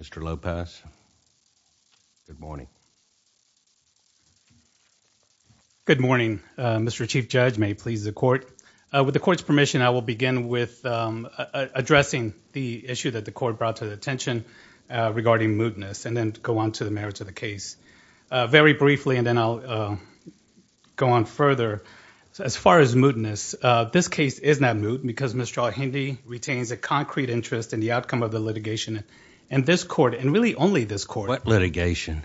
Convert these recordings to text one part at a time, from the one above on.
Mr. Lopez, good morning. Good morning Mr. Chief Judge, may it please the court. With the court's permission, I will begin with addressing the issue that the court brought to the attention regarding mootness and then go on to the merits of the case. Very briefly and then I'll go on further. As far as mootness, this case is not moot because Mr. Alhindi retains a concrete interest in the outcome of the litigation and this court and really only this court. What litigation?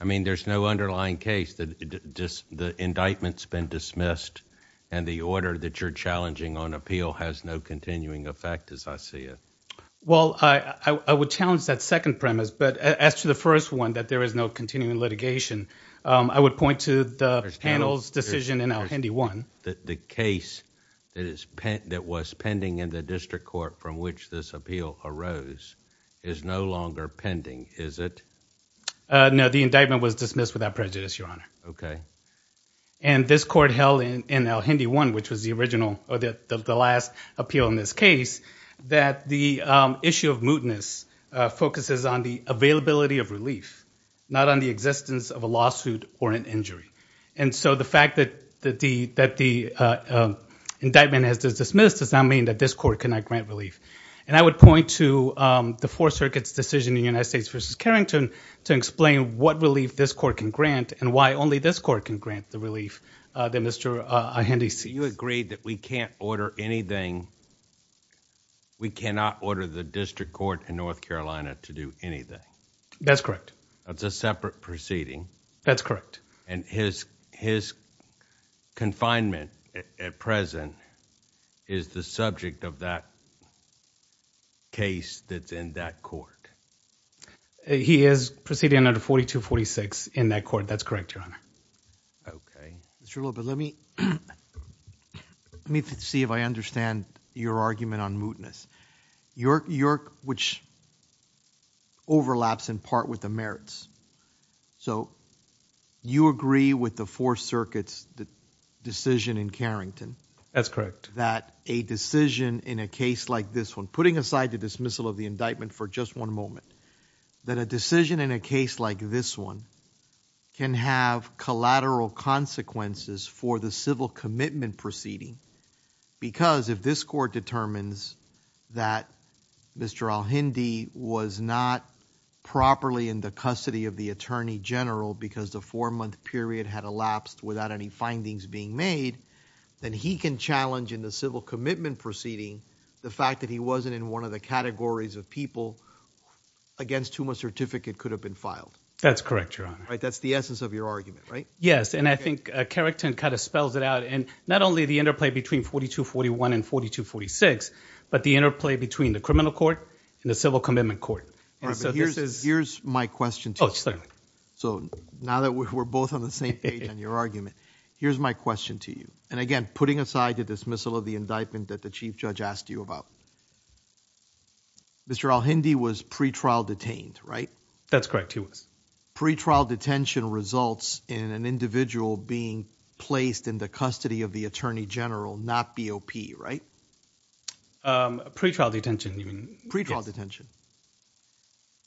I mean there's no underlying case that just the indictments been dismissed and the order that you're challenging on appeal has no continuing effect as I see it. Well, I would challenge that second premise but as to the first one that there is no continuing litigation, I would point to the panel's decision in Alhindi 1. The case that was pending in the district court from which this appeal arose is no longer pending, is it? No, the indictment was dismissed without prejudice, Your Honor. Okay. And this court held in Alhindi 1, which was the original or the last appeal in this case, that the issue of mootness focuses on the availability of relief, not on the existence of a lawsuit or an injury. And so the fact that the indictment has been dismissed does not mean that this court cannot grant relief. And I would point to the Fourth Circuit's decision in United States v. Carrington to explain what relief this court can grant and why only this court can grant the relief that Mr. Alhindi sees. You agreed that we can't order anything, we cannot order the district court in North Carolina to do anything. That's correct. That's a separate proceeding. That's correct. And his confinement at present is the subject of that case that's in that court? He is proceeding under 4246 in that court, that's correct, Your Honor. Okay. Mr. Loba, let me see if I understand your argument on mootness. Which overlaps in part with the merits. So you agree with the Fourth Circuit's decision in Carrington? That's correct. That a decision in a case like this one, putting aside the dismissal of the indictment for just one moment, that a decision in a case like this one can have collateral consequences for the civil commitment proceeding. Because if this court determines that Mr. Alhindi was not properly in the custody of the Attorney General because the four-month period had elapsed without any findings being made, then he can challenge in the civil commitment proceeding the fact that he wasn't in one of the categories of people against whom a certificate could have been filed. That's correct, Your Honor. That's the essence of your argument, right? Yes, and I think Carrington kind of spells it out. And not only the interplay between 4241 and 4246, but the interplay between the criminal court and the civil commitment court. Here's my question to you. So now that we're both on the same page on your argument, here's my question to you. And again, putting aside the dismissal of the indictment that the Chief Judge asked you about, Mr. Alhindi was pre-trial detained, right? That's correct, he was. Pre-trial detention results in an individual being placed in the custody of the Attorney General, not BOP, right? Pre-trial detention. Pre-trial detention.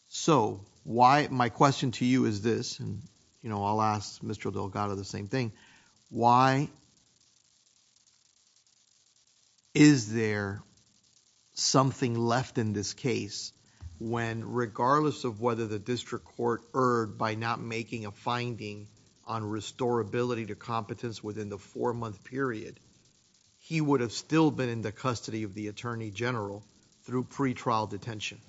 So why, my question to you is this, and you know, I'll ask Mr. Delgado the same thing, why is there something left in this case when regardless of whether the district court erred by not making a binding on restorability to competence within the four-month period, he would have still been in the custody of the Attorney General through pre-trial detention?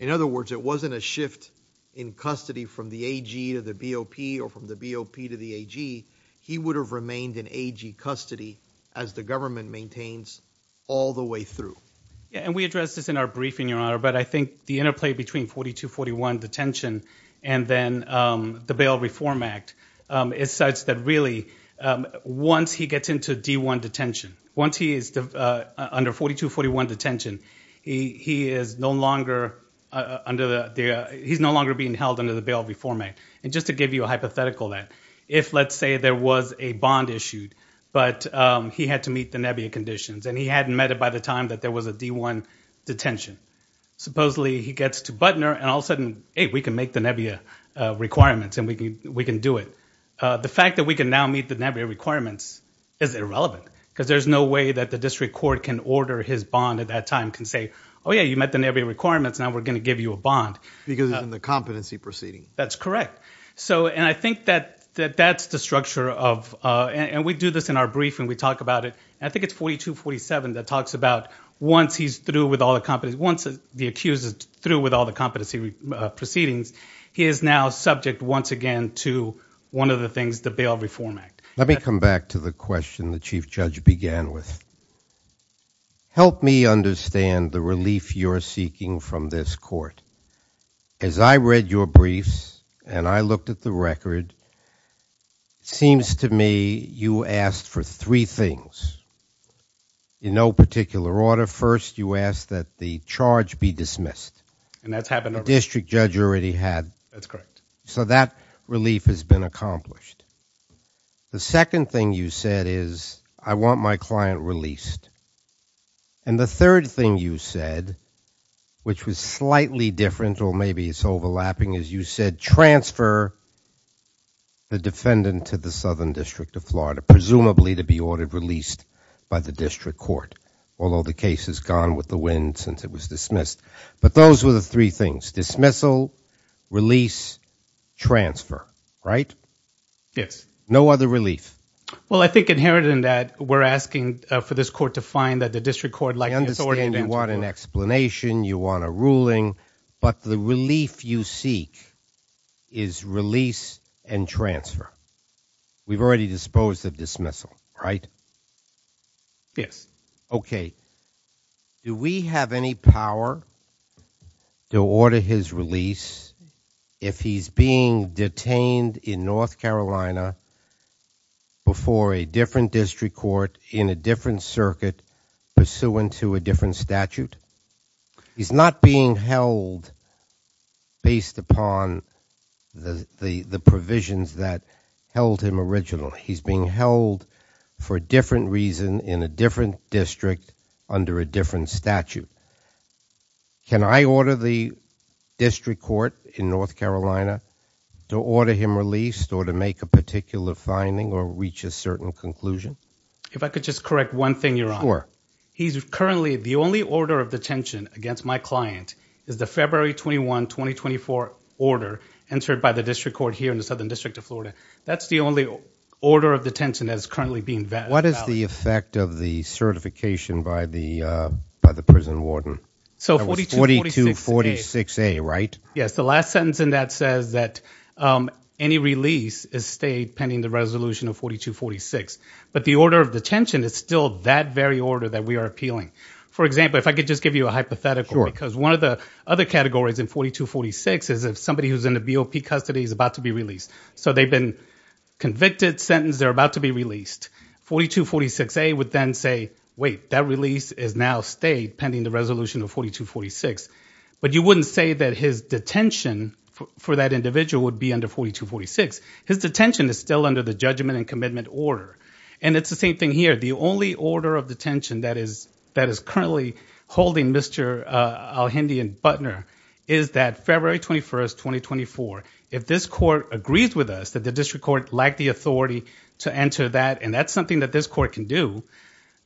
In other words, it wasn't a shift in custody from the AG to the BOP or from the BOP to the AG. He would have remained in AG custody as the government maintains all the way through. And we addressed this in our briefing, Your Honor, but I think the interplay between 4241 detention and then the bail reform act is such that really once he gets into D1 detention, once he is under 4241 detention, he is no longer under the, he's no longer being held under the bail reform act. And just to give you a hypothetical then, if let's say there was a bond issued but he had to meet the NEBIA conditions and he hadn't met it by the time that there was a D1 detention, supposedly he gets to Butner and all of a sudden, hey, we can make the NEBIA requirements and we can do it. The fact that we can now meet the NEBIA requirements is irrelevant because there's no way that the district court can order his bond at that time, can say, oh yeah, you met the NEBIA requirements, now we're gonna give you a bond. Because in the competency proceeding. That's correct. So and I think that that's the structure of, and we do this in our briefing, we talk about it, I think it's 4247 that talks about once he's through with all the competency, once the accused is through with all the competency proceedings, he is now subject once again to one of the things, the bail reform act. Let me come back to the question the chief judge began with. Help me understand the relief you're seeking from this court. As I read your briefs and I looked at the record, seems to me you asked for three things. In no particular order, first you asked that the charge be dismissed. And that's happened. The district judge already had. That's correct. So that relief has been accomplished. The second thing you said is, I want my client released. And the third thing you said, which was slightly different or maybe it's overlapping, is you said transfer the defendant to the Southern District of Florida, presumably to be ordered released by the district court. Although the case has gone with the wind since it was dismissed. But those were the three things. Dismissal, release, transfer. Right? Yes. No other relief. Well I think inherent in that, we're asking for this court to find that the district court... I understand you want an explanation, you want a ruling, but the relief you seek is release and transfer. We've already disposed of dismissal, right? Yes. Okay. Do we have any power to order his release if he's being detained in North Carolina before a different district court in a different circuit pursuant to a different statute? He's not being held based upon the provisions that held him original. He's being held for a different reason in a different district under a different statute. Can I order the district court in North Carolina to order him released or to make a particular finding or reach a certain conclusion? If I could just correct one thing, Your Honor. Sure. He's currently the only order of detention against my client is the February 21, 2024 order entered by the district court here in the Southern District of Florida. That's the only order of detention that's currently being valid. What is the effect of the certification by the prison warden? So 4246A, right? Yes. The last sentence in that says that any release is stayed pending the resolution of 4246, but the order of detention is still that very order that we are appealing. For example, if I could just give you a hypothetical because one of the other categories in 4246 is if somebody who's in the BOP custody is about to be released. So they've been convicted, sentenced, they're about to be released. 4246A would then say, wait, that release is now stayed pending the resolution of 4246. But you wouldn't say that his detention for that individual would be under 4246. His detention is still under the judgment and commitment order. And it's the same thing here. The only order of detention that is currently holding Mr. Alhindi and Butner is that February 21st, 2024, if this court agrees with us that the district court lacked the authority to enter that and that's something that this court can do,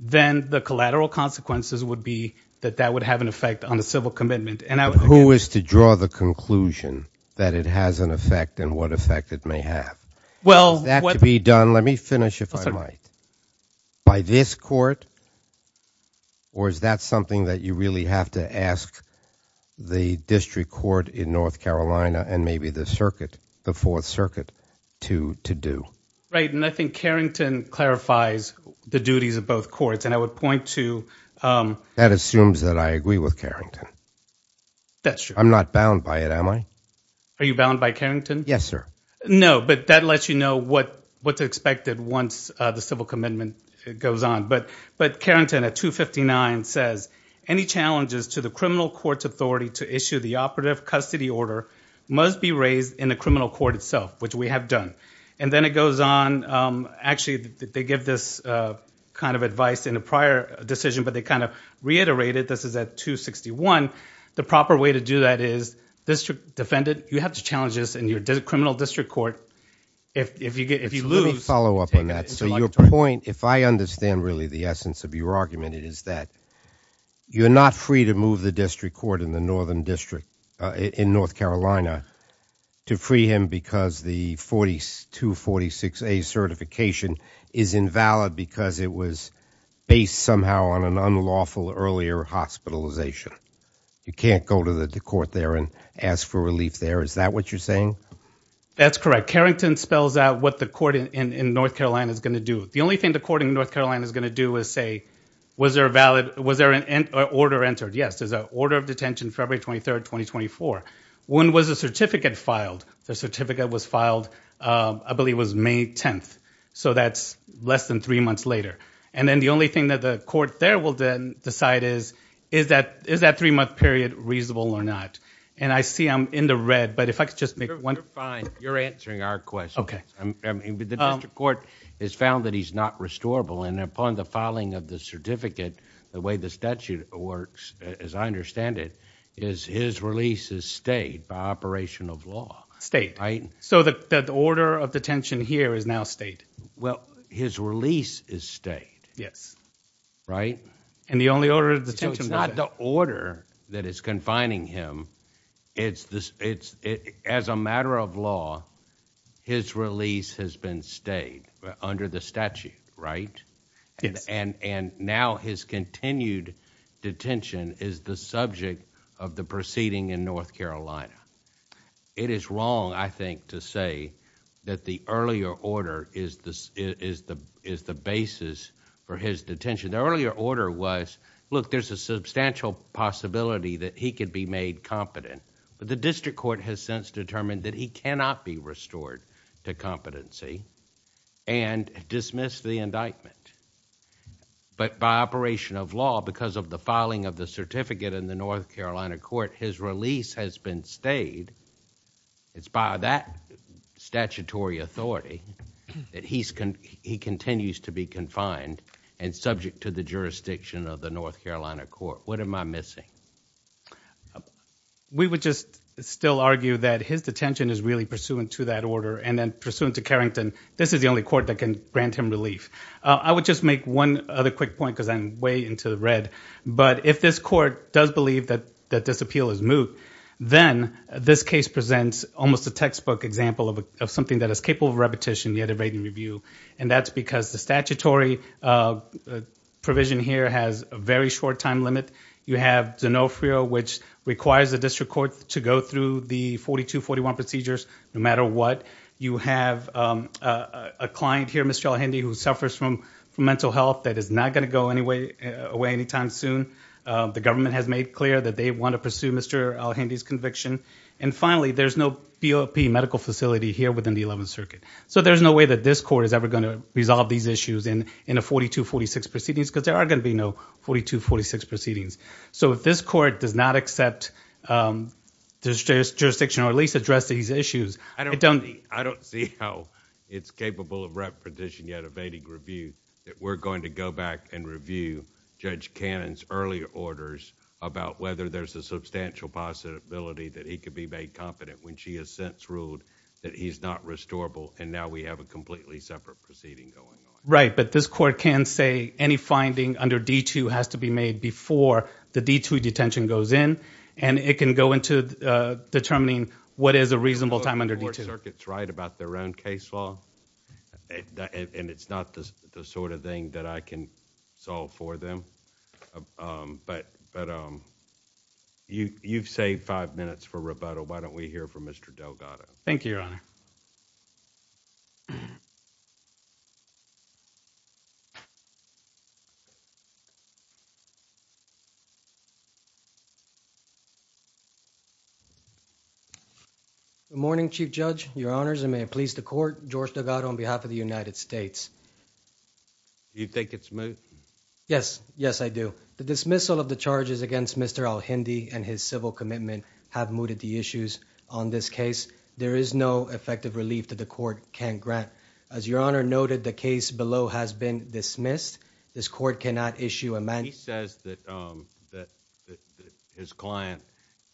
then the collateral consequences would be that that would have an effect on the civil commitment. And who is to draw the conclusion that it has an effect and what effect it may have? Well, that's something that you really have to ask the district court in North Carolina and maybe the circuit, the Fourth Circuit, to do. Right, and I think Carrington clarifies the duties of both courts and I would point to... That assumes that I agree with Carrington. That's true. I'm not bound by it, am I? Are you bound by Carrington? Yes, sir. No, but that lets you know what what's expected once the civil commitment goes on. But Carrington at 259 says, any challenges to the criminal court's authority to issue the operative custody order must be raised in the criminal court itself, which we have done. And then it goes on, actually they give this kind of advice in a prior decision, but they kind of reiterated, this is at 261, the proper way to do that is, district defendant, you have to challenge this in your criminal district court. If you follow up on that, so your point, if I understand really the essence of your argument, it is that you're not free to move the district court in the Northern District in North Carolina to free him because the 4246A certification is invalid because it was based somehow on an unlawful earlier hospitalization. You can't go to the court there and ask for relief there. Is that what you're saying? That's correct. Carrington spells out what the court in North Carolina is going to do. The only thing the court in North Carolina is going to do is say, was there a valid, was there an order entered? Yes, there's an order of detention February 23rd, 2024. When was the certificate filed? The certificate was filed, I believe was May 10th. So that's less than three months later. And then the only thing that the court there will then decide is, is that three month period reasonable or not? And I see I'm in the red, but if I could just make one, you're answering our question. The district court has found that he's not restorable. And upon the filing of the certificate, the way the statute works, as I understand it, is his release is stayed by operation of law state. So that the order of detention here is now state. Well, his release is state. Yes. Right. And the only order of detention is not the as a matter of law, his release has been stayed under the statute, right? And and now his continued detention is the subject of the proceeding in North Carolina. It is wrong, I think, to say that the earlier order is the is the is the basis for his detention. The earlier order was look, there's a substantial possibility that he could be made competent, but the district court has since determined that he cannot be restored to competency and dismiss the indictment. But by operation of law, because of the filing of the certificate in the North Carolina court, his release has been stayed. It's by that statutory authority that he's he continues to be confined and subject to the jurisdiction of the North Carolina court. What am I missing? We would just still argue that his detention is really pursuant to that order and then pursuant to Carrington. This is the only court that can grant him relief. I would just make one other quick point because I'm way into the red. But if this court does believe that that disappeal is moot, then this case presents almost a textbook example of something that is capable of repetition, the other rating review. And that's because the statutory uh, provision here has a very short time limit. You have to know fear, which requires the district court to go through the 42 41 procedures. No matter what you have, um, a client here, Mr. Hendy, who suffers from mental health that is not going to go any way away anytime soon. The government has made clear that they want to pursue Mr Hendy's conviction. And finally, there's no B. O. P. Medical facility here within the 11th Circuit. So there's no way that this court is ever going to resolve these issues and in the 42 46 proceedings because there are going to be no 42 46 proceedings. So if this court does not accept, um, this jurisdiction or at least address these issues, I don't, I don't see how it's capable of repetition yet evading review that we're going to go back and review Judge Cannon's earlier orders about whether there's a substantial possibility that he could be made confident when she has since ruled that he's not restorable. And now we have a completely separate proceeding going on. Right. But this court can say any finding under D two has to be made before the D two detention goes in and it can go into determining what is a reasonable time under the circuit's right about their own case law. And it's not the sort of thing that I can solve for them. Um, but, but, um, you, you've saved five minutes for rebuttal. Why don't we hear from Mr Delgado? Thank you, Your mhm. Good morning, Chief Judge, your honors and may it please the court, George Delgado on behalf of the United States. You think it's smooth? Yes. Yes, I do. The dismissal of the charges against Mr Al Hindi and his civil commitment have mooted the issues on this case. There is no effective relief that the court can grant. As your honor noted, the case below has been dismissed. This court cannot issue a man. He says that that his client,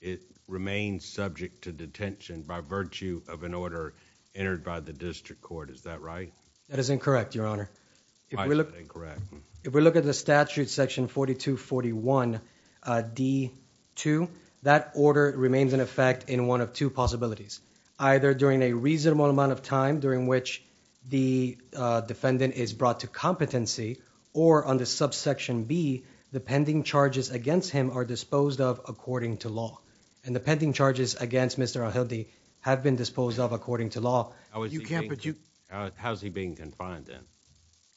it remains subject to detention by virtue of an order entered by the district court. Is that right? That is incorrect, your honor. If we look correct, if we look at the statute section 42 41 D two, that order remains in effect in one of two possibilities, either during a reasonable amount of time during which the defendant is brought to competency or on the subsection B, the pending charges against him are disposed of according to law and the pending charges against Mr Hildy have been disposed of according to law. How is he being confined in?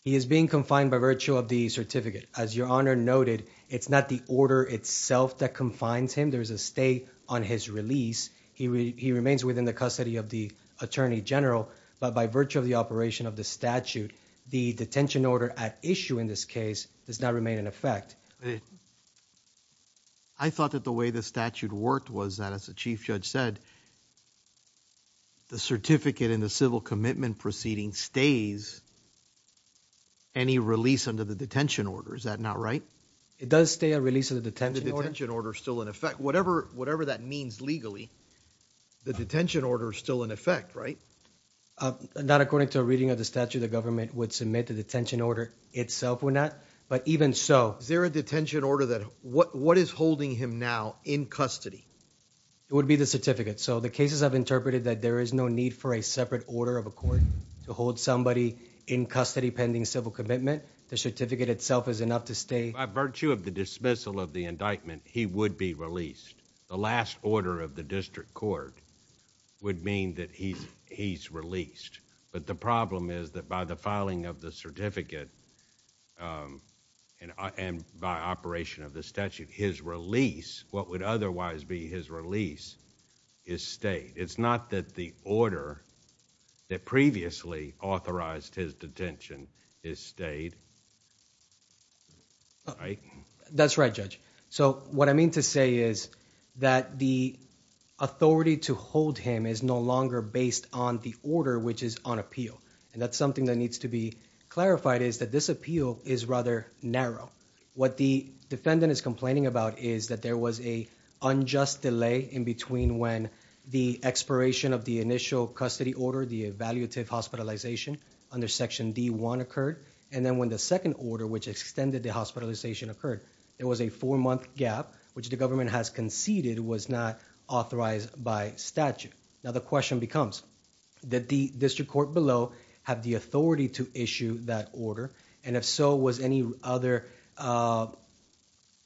He is being confined by virtue of the certificate. As your honor noted, it's not the order itself that confines him. There is a stay on his release. He remains within the custody of the attorney general, but by virtue of the operation of the statute, the detention order at issue in this case does not remain in effect. I thought that the way the statute worked was that, as the chief judge said, the certificate in the civil commitment proceeding stays any release under the detention order. Is that not right? It does stay a lease of the detention order still in effect. Whatever, whatever that means legally, the detention order is still in effect, right? Uh, not according to a reading of the statute, the government would submit the detention order itself or not. But even so, is there a detention order that what is holding him now in custody? It would be the certificate. So the cases have interpreted that there is no need for a separate order of accord to hold somebody in custody pending civil commitment. The certificate itself is not to stay by virtue of the dismissal of the indictment. He would be released. The last order of the district court would mean that he's he's released. But the problem is that by the filing of the certificate, um, and by operation of the statute, his release, what would otherwise be his release is state. It's not that the order that previously authorized his detention is stayed. All right. That's right, Judge. So what I mean to say is that the authority to hold him is no longer based on the order which is on appeal. And that's something that needs to be clarified is that this appeal is rather narrow. What the defendant is complaining about is that there was a unjust delay in between when the expiration of the initial custody order, the evaluative hospitalization under section D one occurred. And then when the second order, which extended the hospitalization occurred, there was a four month gap, which the government has conceded was not authorized by statute. Now the question becomes that the district court below have the authority to issue that order. And if so, was any other, uh,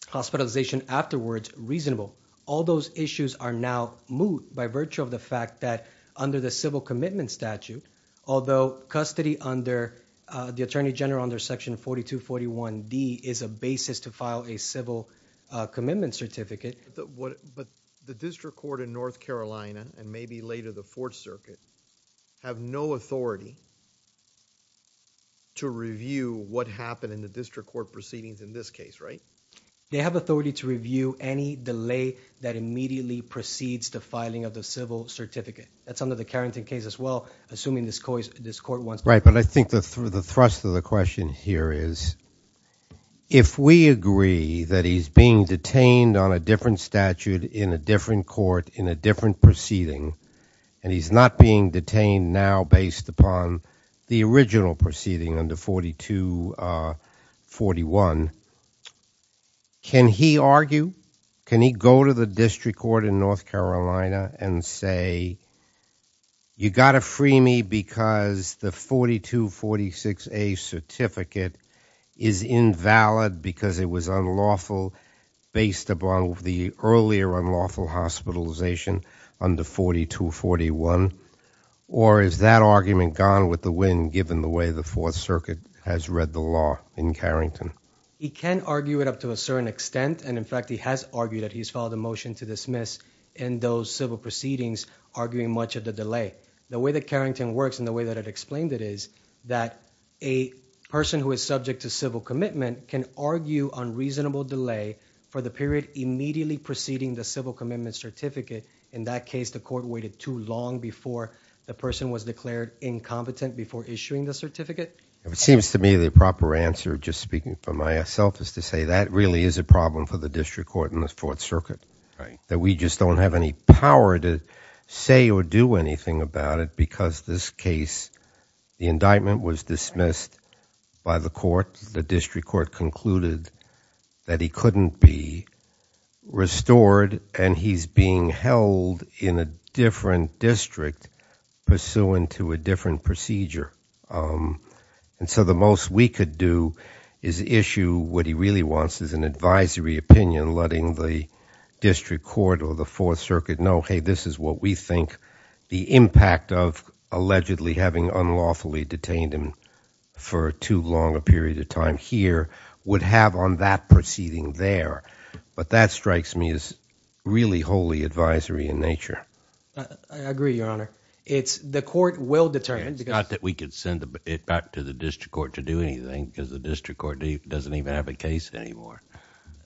hospitalization afterwards reasonable? All those issues are now moved by virtue of the fact that under the civil commitment statute, although custody under the Attorney General under section 42 41 D is a basis to file a civil commitment certificate. But the district court in North Carolina and maybe later the fourth circuit have no authority to review what happened in the district court proceedings in this case, right? They have authority to review any delay that immediately precedes the filing of the civil certificate. That's under the Carrington case as well. Assuming this course, this court was right. But I think that through the thrust of the question here is if we agree that he's being detained on a different statute in a different court in a different proceeding, and he's not being detained now based upon the original proceeding under 42 41. Can he argue? Can he go to the district court in North Carolina and say, you got to free me because the 42 46 a certificate is invalid because it was unlawful based upon the earlier unlawful hospitalization under 42 41. Or is that argument gone with the wind given the way the fourth circuit has read the law in Carrington? He can argue it up to a certain extent. And in fact, he has argued that he's filed a motion to dismiss and those civil proceedings arguing much of the delay. The way that Carrington works in the way that it explained it is that a person who is subject to civil commitment can argue unreasonable delay for the period immediately preceding the civil commitment certificate. In that case, the court waited too long before the person was declared incompetent before issuing the certificate. If it seems to me the proper answer, just speaking for myself is to say that really is a problem for the district court in the fourth circuit, that we just don't have any power to say or do anything about it because this case, the indictment was dismissed by the court. The district court concluded that he couldn't be restored and he's being held in a different district pursuant to a different procedure. And so the most we do is issue what he really wants is an advisory opinion, letting the district court or the fourth circuit know, hey, this is what we think the impact of allegedly having unlawfully detained him for too long a period of time here would have on that proceeding there. But that strikes me as really wholly advisory in nature. I agree, Your Honor. The court will determine. It's not that we can send it back to the district court to do anything because the district court doesn't even have a case anymore.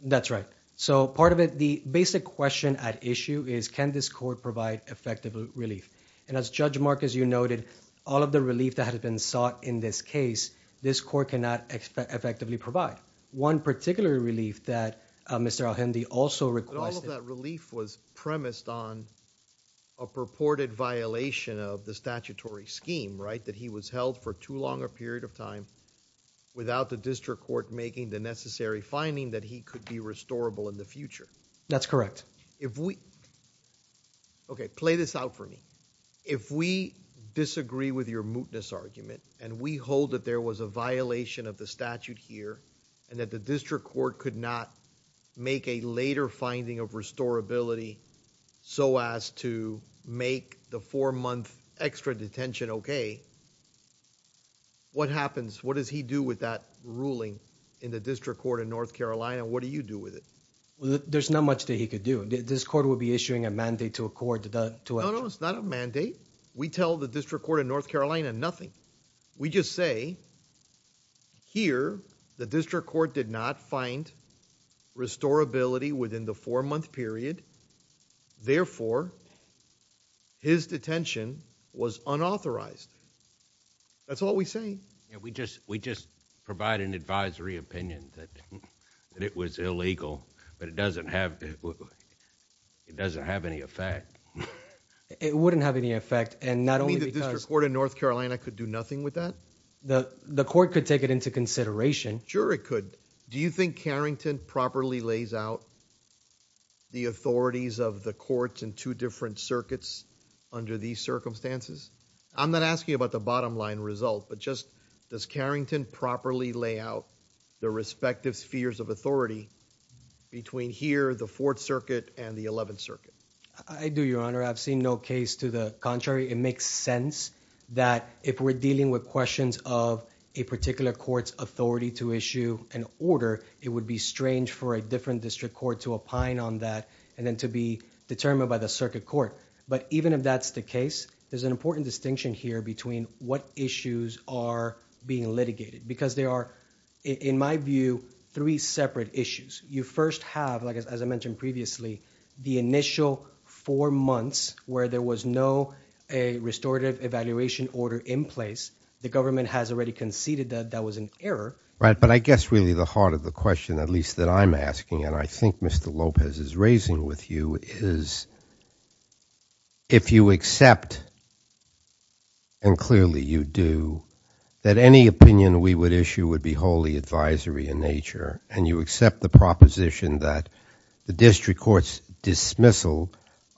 That's right. So part of it, the basic question at issue is, can this court provide effective relief? And as Judge Marcus, you noted all of the relief that had been sought in this case, this court cannot effectively provide. One particular relief that Mr. Alhendy also requested... All of that relief was premised on a purported violation of the statutory scheme, right, that he was held for too long a period of time without the district court making the necessary finding that he could be restorable in the future. That's correct. If we... Okay, play this out for me. If we disagree with your mootness argument and we hold that there was a violation of the statute here and that the district court could not make a later finding of restorability so as to make the four-month extra detention okay, what happens? What does he do with that ruling in the district court in North Carolina? What do you do with it? There's not much that he could do. This court would be issuing a mandate to a court to... No, no, it's not a mandate. We tell the district court in North Carolina nothing. We just say, here, the district court did not find restorability within the four-month period. Therefore, his detention was unauthorized. That's all we say. We just provide an advisory opinion that it was illegal but it doesn't have any effect. It wouldn't have any effect and not only because... You mean the district court in North Carolina could do nothing with that? The court could take it into consideration. Sure, it could take it into consideration. Do you think Carrington properly lays out the authorities of the courts in two different circuits under these circumstances? I'm not asking you about the bottom line result but just does Carrington properly lay out the respective spheres of authority between here, the Fourth Circuit, and the Eleventh Circuit? I do, Your Honor. I've seen no case to the contrary. It makes sense that if we're dealing with questions of a particular court's authority to issue an order, it would be strange for a different district court to opine on that and then to be determined by the circuit court. Even if that's the case, there's an important distinction here between what issues are being litigated because they are, in my view, three separate issues. You first have, as I mentioned previously, the initial four months where there was no restorative evaluation order in place, the government has already conceded that that was an error. Right, but I guess really the heart of the question, at least that I'm asking and I think Mr. Lopez is raising with you, is if you accept, and clearly you do, that any opinion we would issue would be wholly advisory in nature and you accept the proposition that the district court's dismissal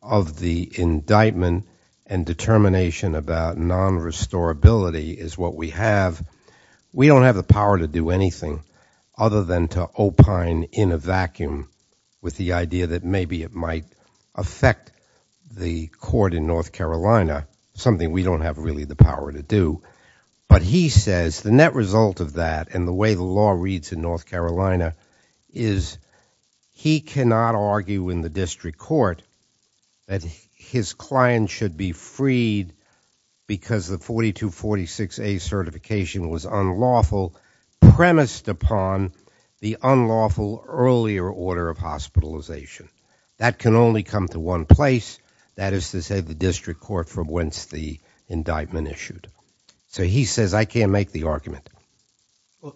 of the indictment and determination about non-restorability is what we have, we don't have the power to do anything other than to opine in a vacuum with the idea that maybe it might affect the court in North Carolina, something we don't have really the power to do. But he says the net result of that and the way the law reads in North Carolina District Court that his client should be freed because the 4246A certification was unlawful, premised upon the unlawful earlier order of hospitalization. That can only come to one place, that is to say the district court for whence the indictment issued. So he says I can't make the argument.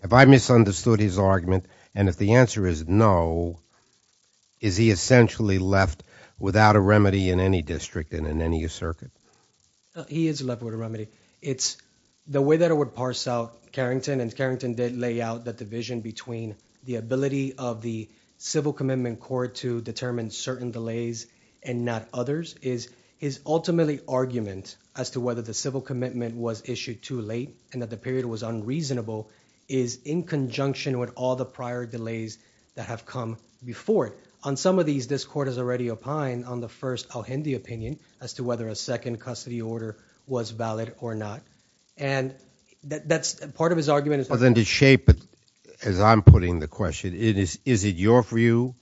If I understood his argument and if the answer is no, is he essentially left without a remedy in any district and in any circuit? He is left with a remedy. It's the way that I would parse out Carrington and Carrington did lay out the division between the ability of the civil commitment court to determine certain delays and not others is ultimately argument as to whether the civil commitment was issued too late and that period was unreasonable is in conjunction with all the prior delays that have come before it. On some of these, this court has already opined on the first al-Hindi opinion as to whether a second custody order was valid or not. And that's part of his argument. Well then to shape it as I'm putting the question, is it your view?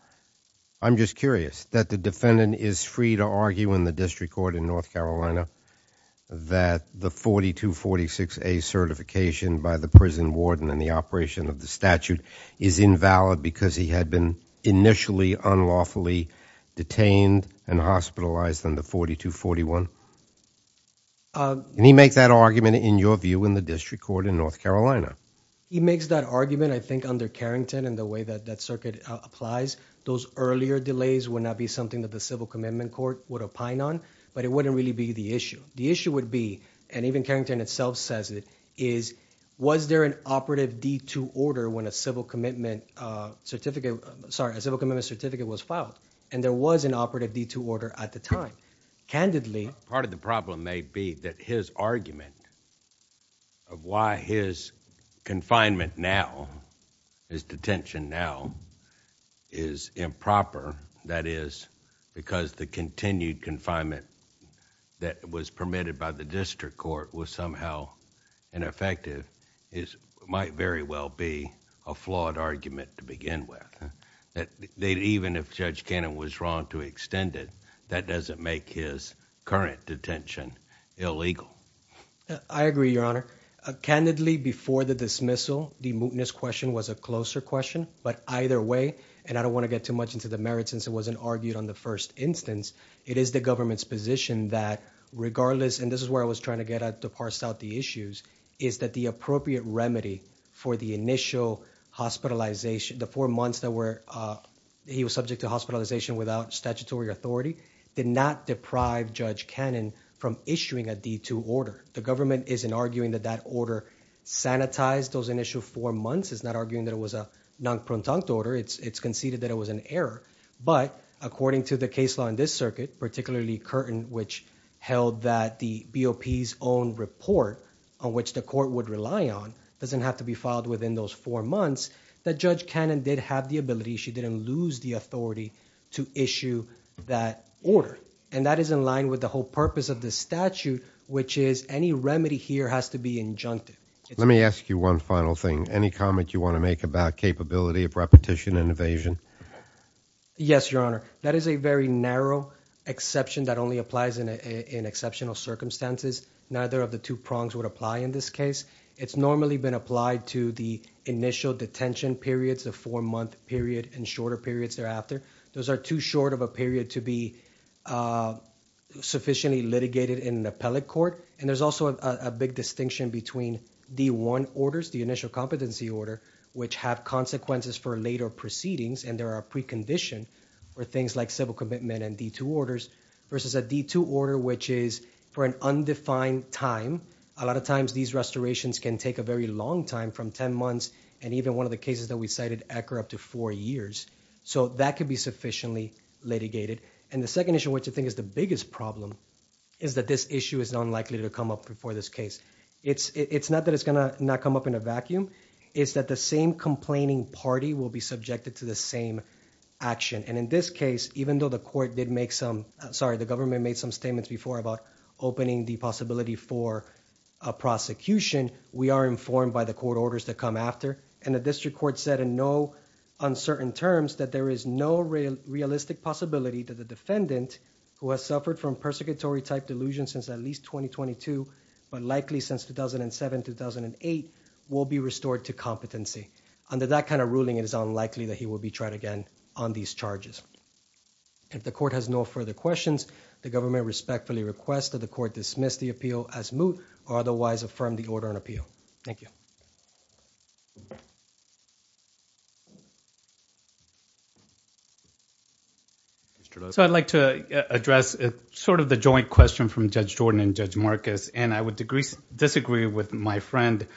I'm just curious that the defendant is free to argue in the district court in North Carolina that the 4246A certification by the prison warden and the operation of the statute is invalid because he had been initially unlawfully detained and hospitalized on the 4241. Can he make that argument in your view in the district court in North Carolina? He makes that argument I think under Carrington and the way that that circuit applies. Those earlier delays would not be something that the civil commitment court would opine on, but it wouldn't really be the issue. The issue would be, and even Carrington itself says it, is was there an operative D2 order when a civil commitment certificate was filed? And there was an operative D2 order at the time. Candidly, part of the problem may be that his argument of why his confinement now, his detention now, is improper, that is because the continued confinement that was permitted by the district court was somehow ineffective, might very well be a flawed argument to begin with. Even if Judge Cannon was wrong to extend it, that doesn't make his current detention illegal. I agree, Your Honor. Candidly, before the dismissal, the mootness question was a closer question, but either way, and I don't want to get too much into the merits since it wasn't argued on the first instance, it is the government's position that regardless, and this is where I was trying to get at to parse out the issues, is that the appropriate remedy for the initial hospitalization, the four months that were, he was subject to hospitalization without statutory authority, did not deprive Judge Cannon from issuing a D2 order. The government isn't arguing that that order sanitized those initial four months. It's not arguing that it was a non-prontunct order. It's conceded that it was an error, but according to the case law in this circuit, particularly Curtin, which held that the BOP's own report, on which the court would rely on, doesn't have to be filed within those four months, that Judge Cannon did have the ability, she didn't lose the authority, to issue that order. And that is in line with the whole purpose of the statute, which is any remedy here has to be injunctive. Let me ask you one final thing. Any comment you want to make about capability of repetition and evasion? Yes, Your Honor. That is a very narrow exception that only applies in exceptional circumstances. Neither of the two prongs would apply in this case. It's normally been applied to the initial detention periods, the four-month period, and shorter periods thereafter. Those are too short of a period to be sufficiently litigated in an appellate court, and there's also a big distinction between D1 orders, the initial competency order, which have consequences for later proceedings, and there are precondition for things like civil commitment and D2 orders, versus a D2 order, which is for an undefined time. A lot of times these restorations can take a very long time, from 10 months and even one of the cases that we cited, accurate up to four years. So that could be sufficiently litigated. And the second issue, which I think is the biggest problem, is that this issue is unlikely to come up before this case. It's not that it's gonna not come up in a vacuum, it's that the same complaining party will be subjected to the same action. And in this case, even though the court did make some, sorry, the government made some statements before about opening the possibility for a prosecution, we are informed by the court orders that come after, and the District Court said in no uncertain terms that there is no real realistic possibility that the defendant, who has suffered from persecutory type delusion since at least 2022, but likely since 2007-2008, will be restored to competency. Under that kind of ruling, it is unlikely that he will be tried again on these charges. If the court has no further questions, the government respectfully requests that the court dismiss the appeal as moot, or otherwise affirm the order and appeal. Thank you. So I'd like to address sort of the joint question from Judge Jordan and Judge Marcus, and I would disagree with my friend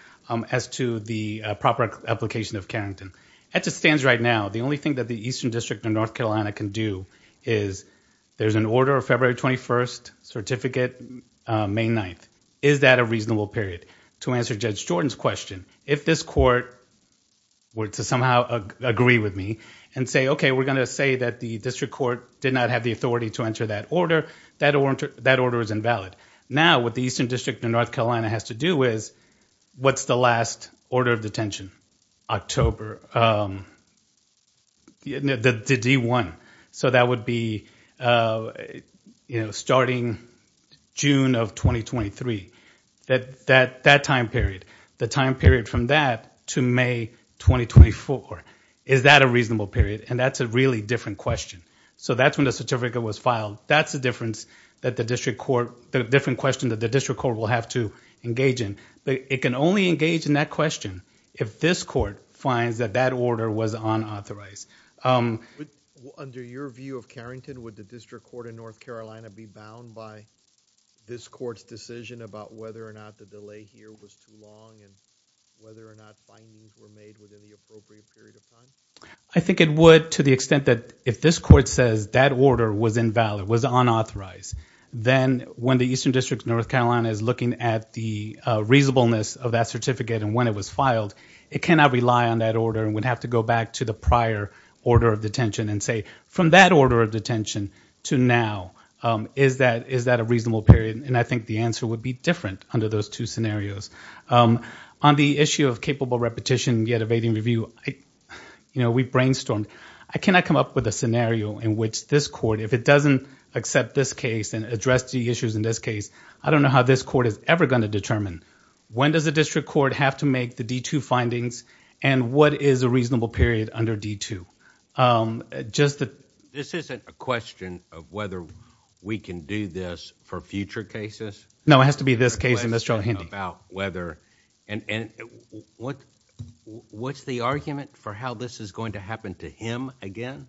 as to the proper application of Carrington. As it stands right now, the only thing that the Eastern District of North Carolina can do is there's an order of February 21st certificate, May 9th. Is that a reasonable period? To answer Judge Jordan's question, if this court were to somehow agree with me and say, okay, we're gonna say that the District Court did not have the authority to enter that order, that order is invalid. Now, what the Eastern District of North Carolina has to do is, what's the last order of detention? October. The D1. So that would be, you know, starting June of 2023. That time period. The time period from that to May 2024. Is that a reasonable period? And that's a really different question. So that's when the certificate was filed. That's the difference that the District Court... the different question that the District Court will have to engage in. But it can only engage in that question if this court finds that that order was unauthorized. Under your view of Carrington, would the District Court of North Carolina be bound by this court's decision about whether or not the delay here was too long and whether or not findings were made within the appropriate period of time? I think it would to the extent that if this court says that order was invalid, was unauthorized, then when the Eastern District of North Carolina is looking at the reasonableness of that certificate and when it was filed, it cannot rely on that order and would have to go back to the prior order of detention and say, from that order of detention to now, is that a reasonable period? And I think the answer would be different under those two scenarios. On the issue of capable repetition yet evading review, you know, we brainstormed. I cannot come up with a scenario in which this court, if it doesn't accept this case and address the issues in this case, I don't know how this court is ever going to determine when does the District Court have to make the D-2 findings and what is a reasonable period under D-2. This isn't a question of whether we can do this for future cases? No, it has to be this case in this trial, Hendy. And what's the argument for how this is going to happen to him again?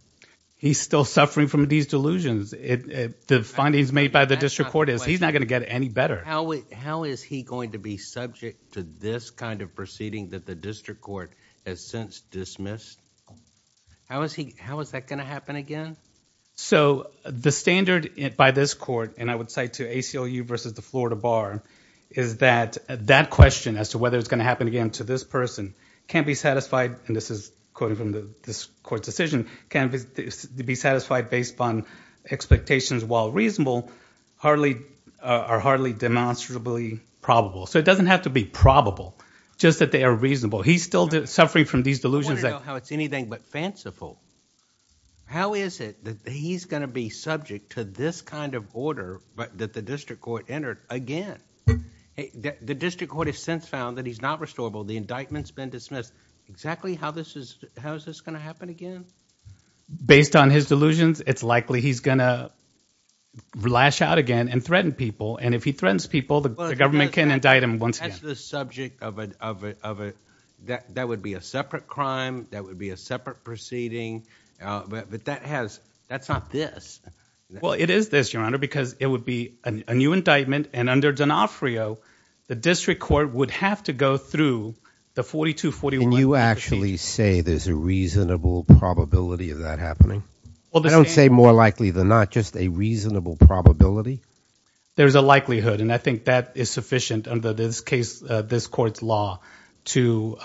He's still suffering from these delusions. The findings made by the District Court is he's not going to get any better. How is he going to be subject to this kind of proceeding that the District Court has since dismissed? How is that going to happen again? So the standard by this court, and I would cite to ACLU versus the Florida Bar, is that that question as to whether it's going to happen again to this person can't be satisfied, and this is quoting from this court's decision, can't be satisfied based upon expectations while reasonable are hardly demonstrably probable. So it doesn't have to be probable, just that they are reasonable. He's still suffering from these delusions. How it's anything but fanciful. How is it that he's going to be subject to this kind of order that the District Court entered again? The District Court has since found that he's not restorable. The indictment's been dismissed. Exactly how is this going to happen again? Based on his delusions, it's likely he's going to lash out again and threaten people, and if he threatens people, the government can indict him once again. That would be a separate crime. That would be a separate proceeding, but that's not this. Well, it is this, Your Honor, because it would be a new indictment, and under D'Onofrio, the District Court would have to go through the 42-41. Can you actually say there's a reasonable probability of that happening? I don't say more likely than not, just a reasonable probability? There's a likelihood, and I think that is sufficient under this court's law to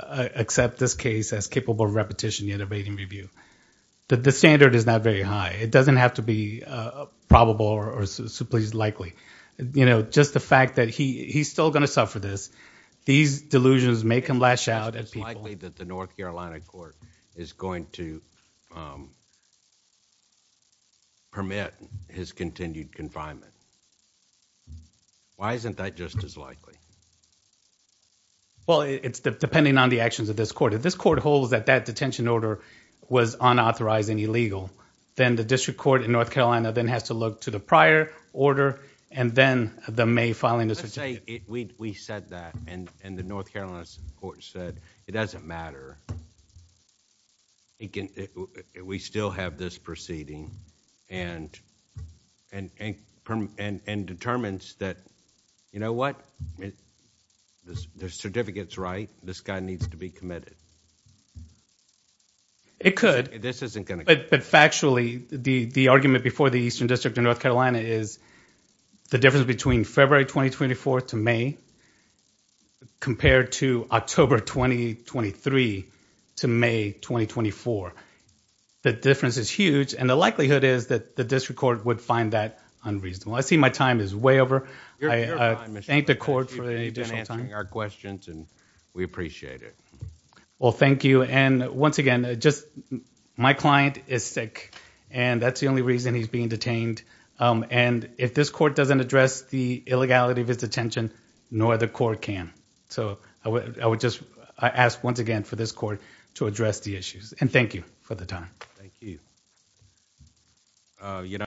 accept this case as capable of repetition yet awaiting review. The standard is not very high. It doesn't have to be probable or simply likely. Just the fact that he's still going to suffer this, these delusions make him lash out at people... It's likely that the North Carolina Court is going to permit his continued confinement. Why isn't that just as likely? Well, it's depending on the actions of this court. If this court holds that that detention order was unauthorized and illegal, then the District Court in North Carolina then has to look to the prior order, and then the May filing... Let's say we said that, and the North Carolina Court said, it doesn't matter. We still have this proceeding and determines that, you know what? The certificate's right. This guy needs to be committed. It could, but factually, the argument before the Eastern District in North Carolina is the difference between February 2024 to May compared to October 2023 to May 2024. The difference is huge, and the likelihood is that the District Court would find that unreasonable. I see my time is way over. I thank the court for any additional time. You've been answering our questions, and we appreciate it. Well, thank you. Once again, my client is sick, and that's the only reason he's being detained. If this court doesn't address the illegality of his detention, no other court can. I ask, once again, for this court to address the issues. Thank you for the time.